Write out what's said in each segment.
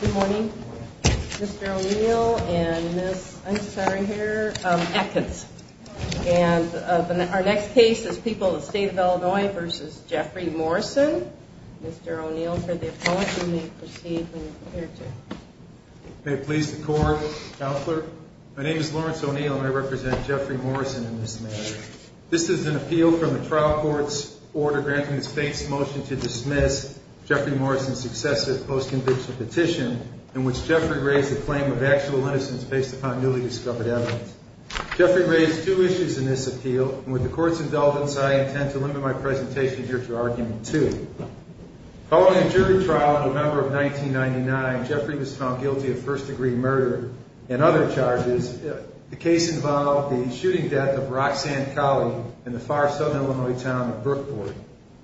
Good morning. Mr. O'Neill and Ms. Atkins. And our next case is People of the State of Illinois v. Jeffrey Morrison. Mr. O'Neill for the appellant. You may proceed when you're prepared to. May it please the court. Counselor, my name is Lawrence O'Neill and I represent Jeffrey Morrison in this matter. This is an appeal from the trial court's order granting the state's motion to dismiss Jeffrey Morrison's successive post-conviction petition in which Jeffrey raised the claim of actual innocence based upon newly discovered evidence. Jeffrey raised two issues in this appeal, and with the court's indulgence I intend to limit my presentation here to argument two. Following a jury trial in November of 1999, Jeffrey was found guilty of first-degree murder and other charges. The case involved the shooting death of Roxanne Colley in the far southern Illinois town of Brookport.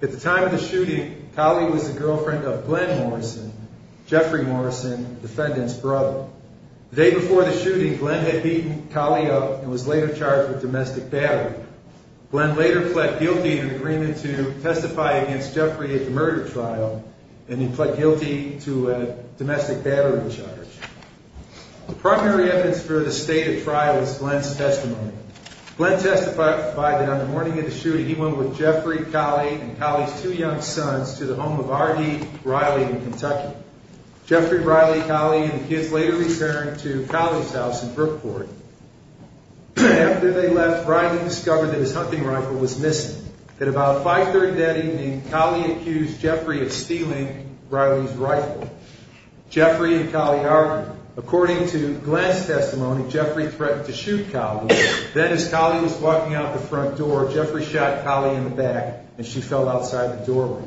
At the time of the shooting, Colley was the girlfriend of Glenn Morrison, Jeffrey Morrison, the defendant's brother. The day before the shooting, Glenn had beaten Colley up and was later charged with domestic battery. Glenn later pled guilty in an agreement to testify against Jeffrey at the murder trial, and he pled guilty to a domestic battery charge. The primary evidence for the stated trial is Glenn's testimony. Glenn testified that on the morning of the shooting, he went with Jeffrey, Colley, and Colley's two young sons to the home of R.D. Riley in Kentucky. Jeffrey, Riley, Colley, and the kids later returned to Colley's house in Brookport. After they left, Riley discovered that his hunting rifle was missing. At about 5.30 that evening, Colley accused Jeffrey of stealing Riley's rifle. Jeffrey and Colley argued. According to Glenn's testimony, Jeffrey threatened to shoot Colley. Then, as Colley was walking out the front door, Jeffrey shot Colley in the back, and she fell outside the doorway.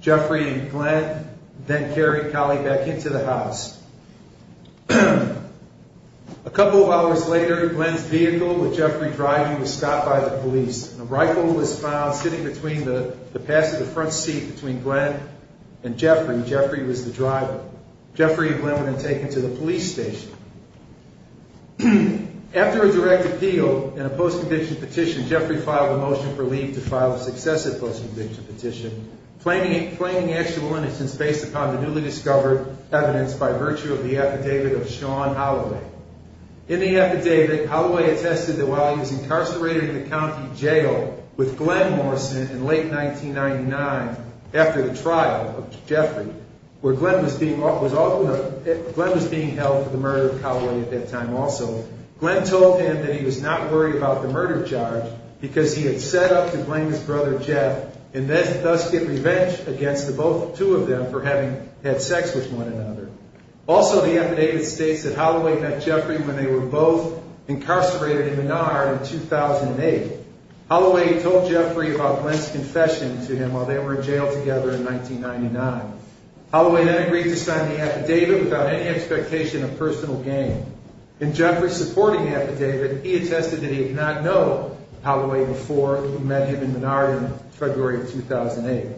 Jeffrey and Glenn then carried Colley back into the house. A couple of hours later, Glenn's vehicle with Jeffrey driving was stopped by the police, and a rifle was found sitting between the pass of the front seat between Glenn and Jeffrey. Jeffrey was the driver. Jeffrey and Glenn were then taken to the police station. After a direct appeal and a post-conviction petition, Jeffrey filed a motion for leave to file a successive post-conviction petition, claiming actual innocence based upon the newly discovered evidence by virtue of the affidavit of Sean Holloway. In the affidavit, Holloway attested that while he was incarcerated in the county jail with Glenn Morrison in late 1999 after the trial of Jeffrey, where Glenn was being held for the murder of Colley at that time also, Glenn told him that he was not worried about the murder charge because he had set up to blame his brother, Jeff, and thus get revenge against the two of them for having had sex with one another. Also, the affidavit states that Holloway met Jeffrey when they were both incarcerated in Menard in 2008. Holloway told Jeffrey about Glenn's confession to him while they were in jail together in 1999. Holloway then agreed to sign the affidavit without any expectation of personal gain. In Jeffrey's supporting affidavit, he attested that he did not know Holloway before he met him in Menard in February of 2008.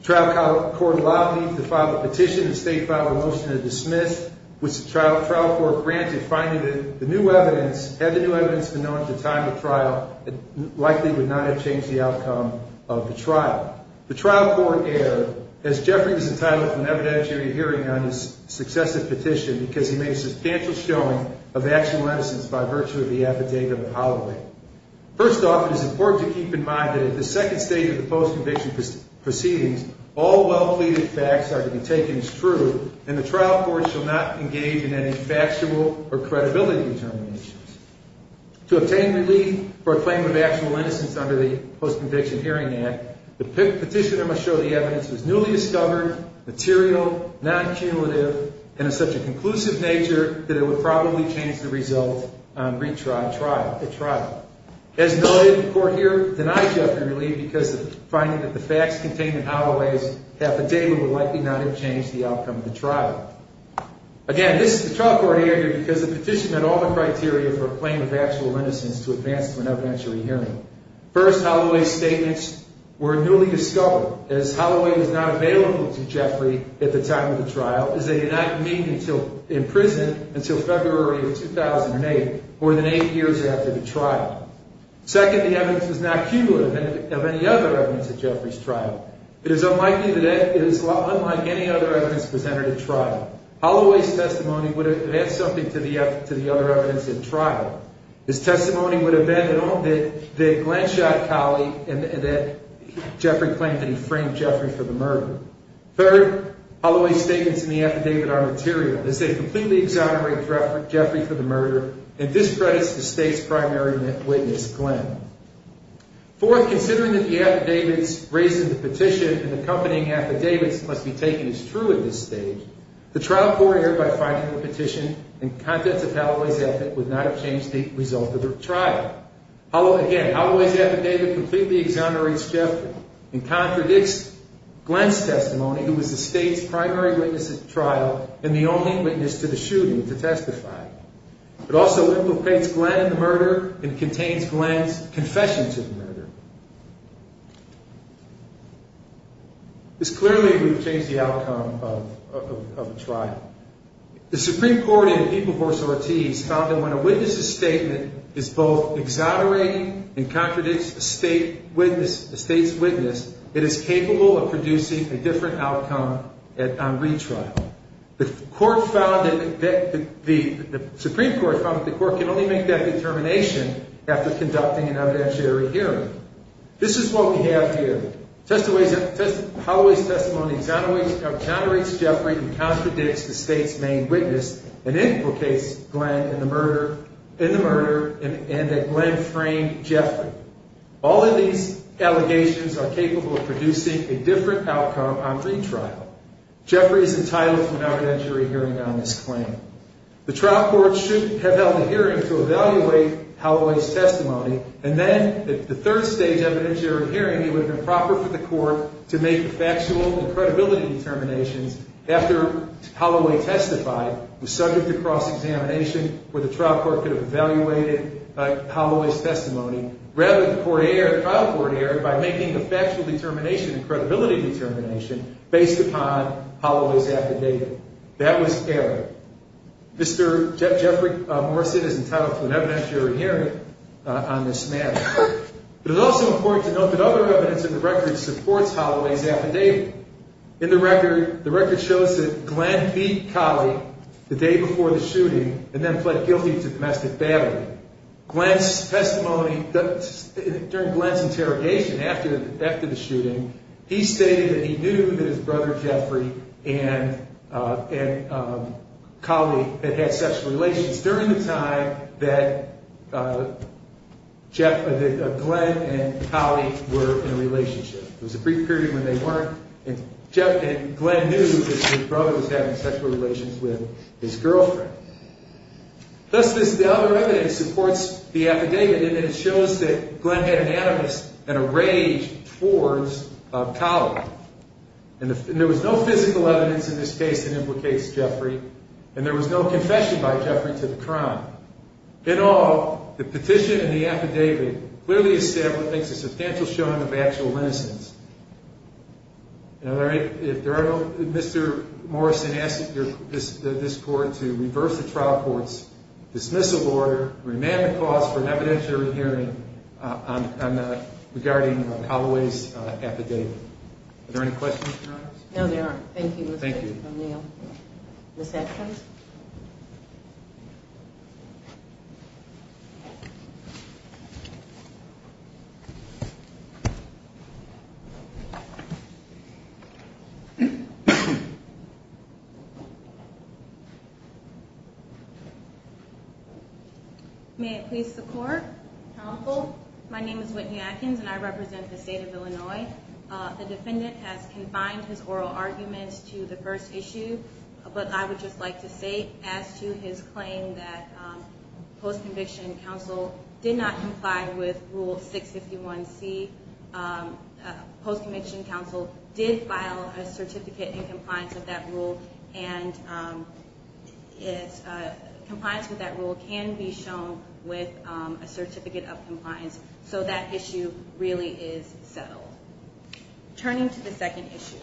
The trial court allowed me to file a petition and state file a motion to dismiss, which the trial court granted, finding that had the new evidence been known at the time of trial, it likely would not have changed the outcome of the trial. The trial court erred as Jeffrey was entitled to an evidentiary hearing on his successive petition because he made a substantial showing of actual innocence by virtue of the affidavit of Holloway. First off, it is important to keep in mind that at the second stage of the post-conviction proceedings, all well-pleaded facts are to be taken as true and the trial court shall not engage in any factual or credibility determinations. To obtain relief for a claim of actual innocence under the Post-Conviction Hearing Act, the petitioner must show the evidence was newly discovered, material, non-cumulative, and of such a conclusive nature that it would probably change the result at trial. As noted, the court here denied Jeffrey relief because of finding that the facts contained in Holloway's affidavit would likely not have changed the outcome of the trial. Again, this trial court erred because the petition met all the criteria for a claim of actual innocence to advance to an evidentiary hearing. First, Holloway's statements were newly discovered, as Holloway was not available to Jeffrey at the time of the trial, as they did not meet in prison until February of 2008, more than eight years after the trial. Second, the evidence was not cumulative of any other evidence at Jeffrey's trial. It is unlikely that it is unlike any other evidence presented at trial. Holloway's testimony would have added something to the other evidence at trial. His testimony would have been that Glenshot collied and that Jeffrey claimed that he framed Jeffrey for the murder. Third, Holloway's statements in the affidavit are material, as they completely exonerate Jeffrey for the murder, and this credits the state's primary witness, Glen. Fourth, considering that the affidavits raised in the petition and accompanying affidavits must be taken as true at this stage, the trial court erred by finding the petition and contents of Holloway's affidavit would not have changed the result of the trial. Again, Holloway's affidavit completely exonerates Jeffrey and contradicts Glen's testimony, who was the state's primary witness at the trial and the only witness to the shooting, to testify. It also implicates Glen in the murder and contains Glen's confession to the murder. This clearly would have changed the outcome of the trial. The Supreme Court in People v. Ortiz found that when a witness's statement is both exonerating and contradicts the state's witness, it is capable of producing a different outcome on retrial. The Supreme Court found that the court can only make that determination after conducting an evidentiary hearing. This is what we have here. Holloway's testimony exonerates Jeffrey and contradicts the state's main witness and implicates Glen in the murder and that Glen framed Jeffrey. All of these allegations are capable of producing a different outcome on retrial. Jeffrey is entitled to an evidentiary hearing on this claim. The trial court should have held a hearing to evaluate Holloway's testimony and then at the third stage evidentiary hearing, it would have been proper for the court to make factual and credibility determinations after Holloway testified, was subject to cross-examination where the trial court could have evaluated Holloway's testimony. Rather, the trial court erred by making a factual determination and credibility determination based upon Holloway's affidavit. That was error. Mr. Jeffrey Morrison is entitled to an evidentiary hearing on this matter. It is also important to note that other evidence in the record supports Holloway's affidavit. In the record, the record shows that Glen beat Collie the day before the shooting and then pled guilty to domestic battery. Glen's testimony, during Glen's interrogation after the shooting, he stated that he knew that his brother Jeffrey and Collie had had sexual relations during the time that Glen and Collie were in a relationship. It was a brief period when they weren't and Glen knew that his brother was having sexual relations with his girlfriend. Thus, the other evidence supports the affidavit and it shows that Glen had an animus and a rage towards Collie. There was no physical evidence in this case that implicates Jeffrey and there was no confession by Jeffrey to the crime. In all, the petition and the affidavit clearly establish a substantial showing of actual innocence. Mr. Morrison asked this court to reverse the trial court's dismissal order and remand the cause for an evidentiary hearing regarding Holloway's affidavit. Are there any questions, Your Honors? No, there aren't. Thank you, Mr. O'Neill. Ms. Atkins? May it please the Court? Counsel, my name is Whitney Atkins and I represent the State of Illinois. The defendant has confined his oral arguments to the first issue, but I would just like to make a comment. I would like to say as to his claim that post-conviction counsel did not comply with Rule 651C. Post-conviction counsel did file a certificate in compliance with that rule and compliance with that rule can be shown with a certificate of compliance, so that issue really is settled. Turning to the second issue,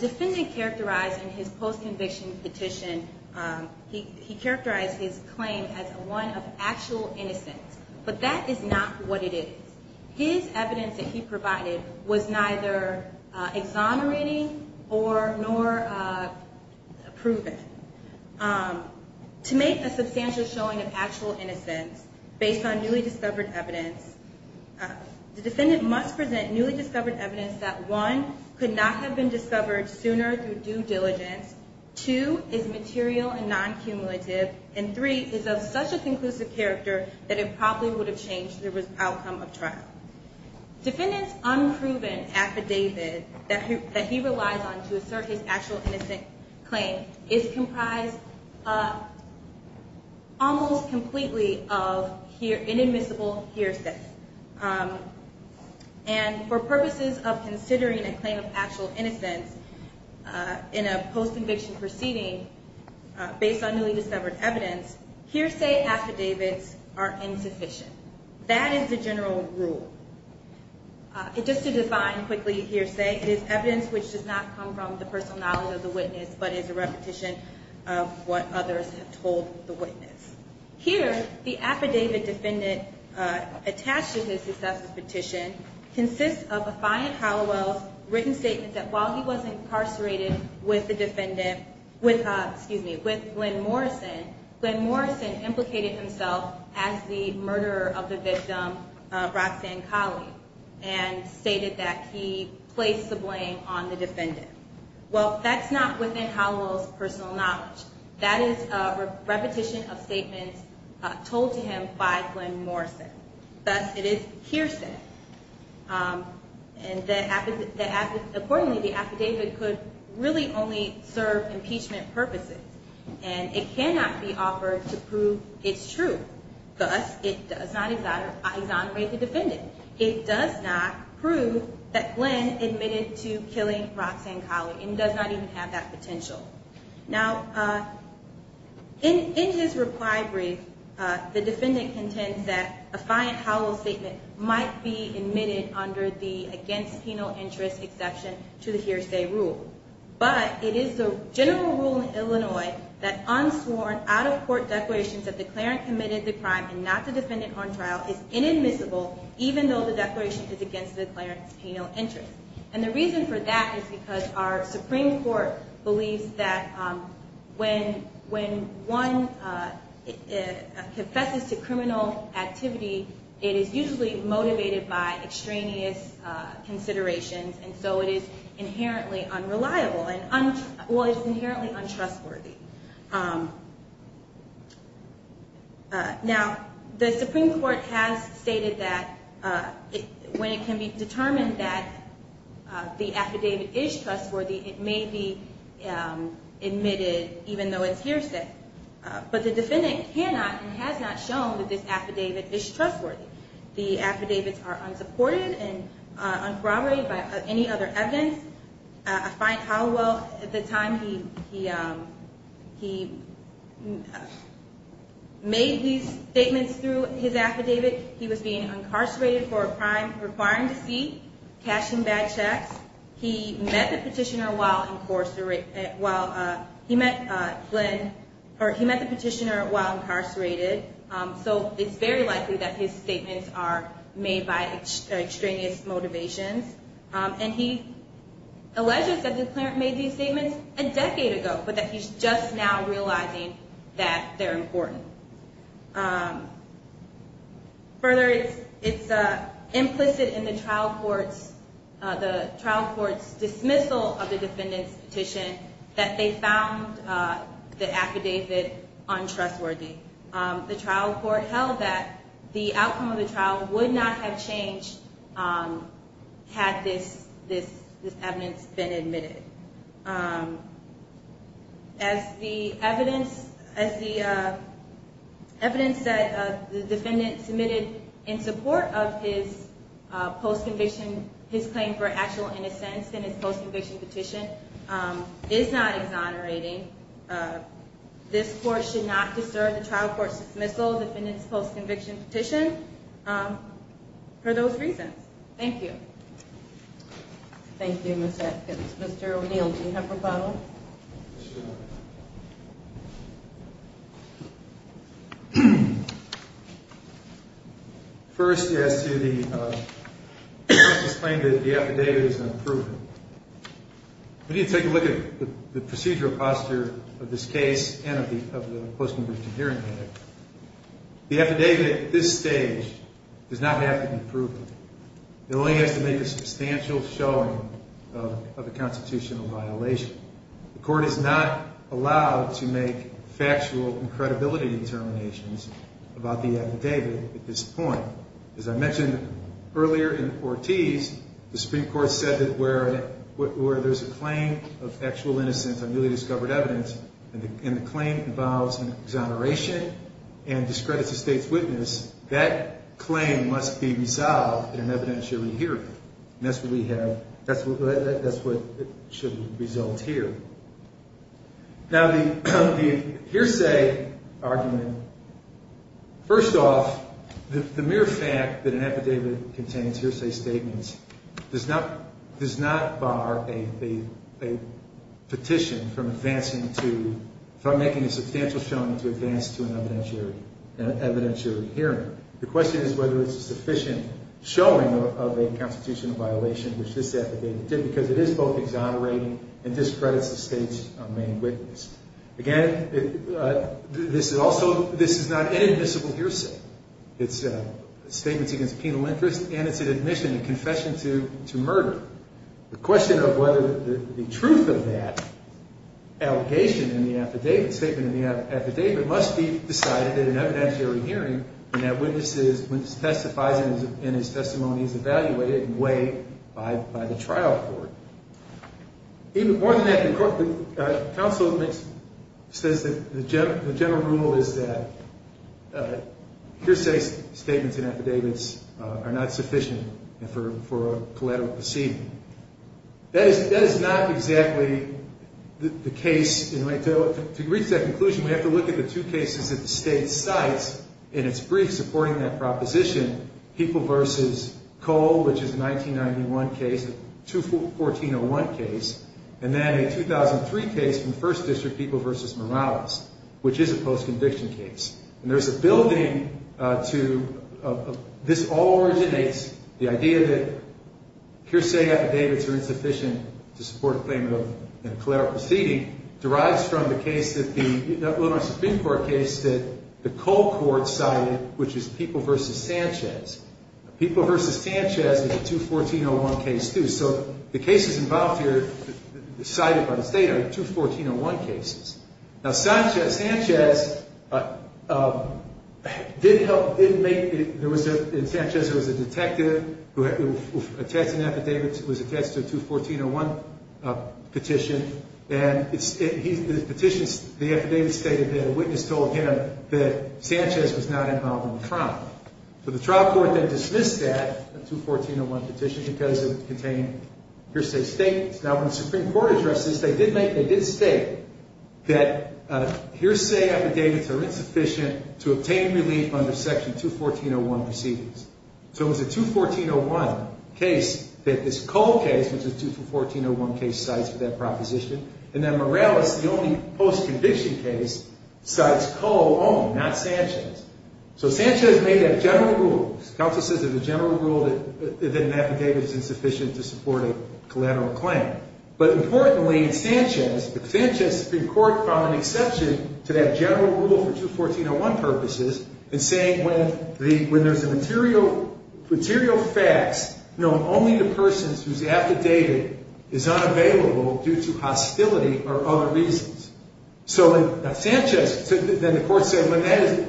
defendant characterized in his post-conviction petition, he characterized his claim as one of actual innocence, but that is not what it is. His evidence that he provided was neither exonerating nor proven. To make a substantial showing of actual innocence based on newly discovered evidence, the defendant must present newly discovered evidence that, one, could not have been discovered sooner through due diligence, two, is material and non-cumulative, and three, is of such a conclusive character that it probably would have changed the outcome of trial. Defendant's unproven affidavit that he relies on to assert his actual innocent claim is comprised almost completely of inadmissible hearsay, and for purposes of considering a claim of actual innocence in a post-conviction proceeding based on newly discovered evidence, hearsay affidavits are insufficient. That is the general rule. Just to define quickly hearsay, it is evidence which does not come from the personal knowledge of the witness, but is a repetition of what others have told the witness. Here, the affidavit defendant attached to his successful petition consists of a defiant Hallowell's written statement that while he was incarcerated with the defendant, with Glenn Morrison, Glenn Morrison implicated himself as the murderer of the victim, Roxanne Colley, and stated that he placed the blame on the defendant. Well, that's not within Hallowell's personal knowledge. That is a repetition of statements told to him by Glenn Morrison. Thus, it is hearsay. Accordingly, the affidavit could really only serve impeachment purposes, and it cannot be offered to prove it's true. Thus, it does not exonerate the defendant. It does not prove that Glenn admitted to killing Roxanne Colley, and does not even have that potential. Now, in his reply brief, the defendant contends that a fiant Hallowell statement might be admitted under the against penal interest exception to the hearsay rule. But, it is the general rule in Illinois that unsworn, out-of-court declarations that the cleric committed the crime and not the defendant on trial is inadmissible, even though the declaration is against the cleric's penal interest. And the reason for that is because our Supreme Court believes that when one confesses to criminal activity, it is usually motivated by extraneous considerations, and so it is inherently unreliable. Well, it's inherently untrustworthy. Now, the Supreme Court has stated that when it can be determined that the affidavit is trustworthy, it may be admitted, even though it's hearsay. But the defendant cannot and has not shown that this affidavit is trustworthy. The affidavits are unsupported and uncorroborated by any other evidence. I find Hallowell, at the time he made these statements through his affidavit, he was being incarcerated for a crime requiring deceit, cashing bad checks. He met the petitioner while incarcerated, so it's very likely that his statements are made by extraneous motivations. And he alleges that the cleric made these statements a decade ago, but that he's just now realizing that they're important. Further, it's implicit in the trial court's dismissal of the defendant's petition that they found the affidavit untrustworthy. The trial court held that the outcome of the trial would not have changed had this evidence been admitted. As the evidence that the defendant submitted in support of his post-conviction, his claim for actual innocence in his post-conviction petition, is not exonerating. This court should not disturb the trial court's dismissal of the defendant's post-conviction petition for those reasons. Thank you. Thank you, Ms. Atkins. Mr. O'Neill, do you have a rebuttal? Yes, Your Honor. First, as to the claim that the affidavit is unproven, we need to take a look at the procedural posture of this case and of the post-conviction hearing. The affidavit at this stage does not have to be proven. It only has to make a substantial showing of a constitutional violation. The court is not allowed to make factual and credibility determinations about the affidavit at this point. As I mentioned earlier in Ortiz, the Supreme Court said that where there's a claim of actual innocence on newly discovered evidence, and the claim involves an exoneration and discredits the state's witness, that claim must be resolved in an evidentiary hearing. And that's what we have, that's what should result here. Now, the hearsay argument, first off, the mere fact that an affidavit contains hearsay statements does not bar a petition from making a substantial showing to advance to an evidentiary hearing. The question is whether it's a sufficient showing of a constitutional violation, which this affidavit did, because it is both exonerating and discredits the state's main witness. Again, this is not inadmissible hearsay. It's statements against a penal interest, and it's an admission, a confession to murder. The question of whether the truth of that allegation in the affidavit, statement in the affidavit, must be decided in an evidentiary hearing, and that witness testifies and his testimony is evaluated and weighed by the trial court. More than that, the counsel says that the general rule is that hearsay statements in affidavits are not sufficient for a collateral proceeding. That is not exactly the case. To reach that conclusion, we have to look at the two cases that the state cites in its brief supporting that proposition, People v. Cole, which is a 1991 case, a 2014-01 case, and then a 2003 case from the First District, People v. Morales, which is a post-conviction case. And there's a building to this all originates, the idea that hearsay affidavits are insufficient to support a claimant of a collateral proceeding, derives from the case that the Supreme Court case that the Cole court cited, which is People v. Sanchez. People v. Sanchez is a 2014-01 case, too, so the cases involved here cited by the state are 2014-01 cases. Now, Sanchez did help, didn't make, in Sanchez there was a detective who was attached to a 2014-01 petition, and the petition, the affidavit stated that a witness told him that Sanchez was not involved in the trial. So the trial court then dismissed that, the 2014-01 petition, because it contained hearsay statements. Now, when the Supreme Court addressed this, they did make, they did state that hearsay affidavits are insufficient to obtain relief under Section 214-01 proceedings. So it was a 2014-01 case that this Cole case, which is two 2014-01 case sites for that proposition, and then Morales, the only post-conviction case, cites Cole only, not Sanchez. So Sanchez made that general rule. Counsel says it's a general rule that an affidavit is insufficient to support a collateral claim. But importantly, in Sanchez, the Sanchez Supreme Court found an exception to that general rule for 2014-01 purposes in saying when there's a material facts known only to persons whose affidavit is unavailable due to hostility or other reasons. So in Sanchez, then the court said when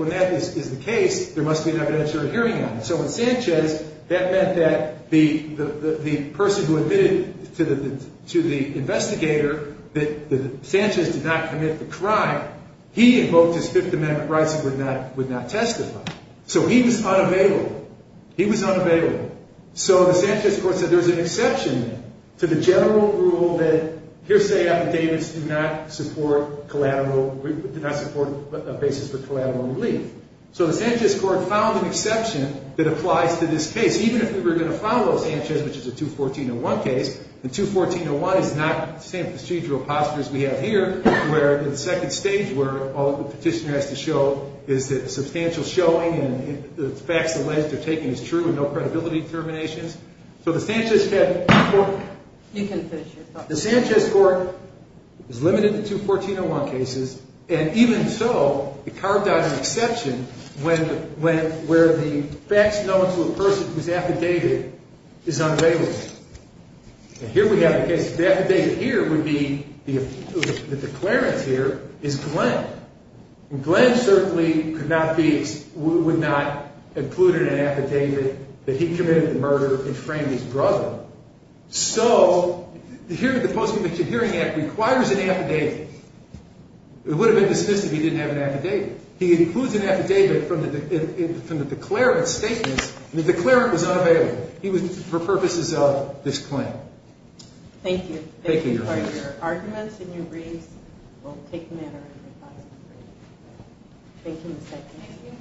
that is the case, there must be an evidentiary hearing on it. So in Sanchez, that meant that the person who admitted to the investigator that Sanchez did not commit the crime, he invoked his Fifth Amendment rights and would not testify. So he was unavailable. He was unavailable. So the Sanchez court said there's an exception to the general rule that hearsay affidavits do not support collateral, do not support a basis for collateral relief. So the Sanchez court found an exception that applies to this case, even if we were going to follow Sanchez, which is a 2014-01 case. The 2014-01 is not the same procedural posture as we have here, where in the second stage where all the petitioner has to show is that substantial showing and the facts alleged are taken as true and no credibility determinations. So the Sanchez court... And here we have the case, the affidavit here would be, the declarant here is Glenn. And Glenn certainly could not be, would not include in an affidavit that he committed the murder and framed his brother. So the Post-Conviction Hearing Act requires an affidavit. It would have been dismissed if he didn't have an affidavit. He includes an affidavit from the declarant's statements, and the declarant was unavailable. He was, for purposes of this claim. Thank you. Thank you, Your Honor. Thank you for your arguments and your briefs. We'll take a minute or two. Thank you, Mr. Atkinson.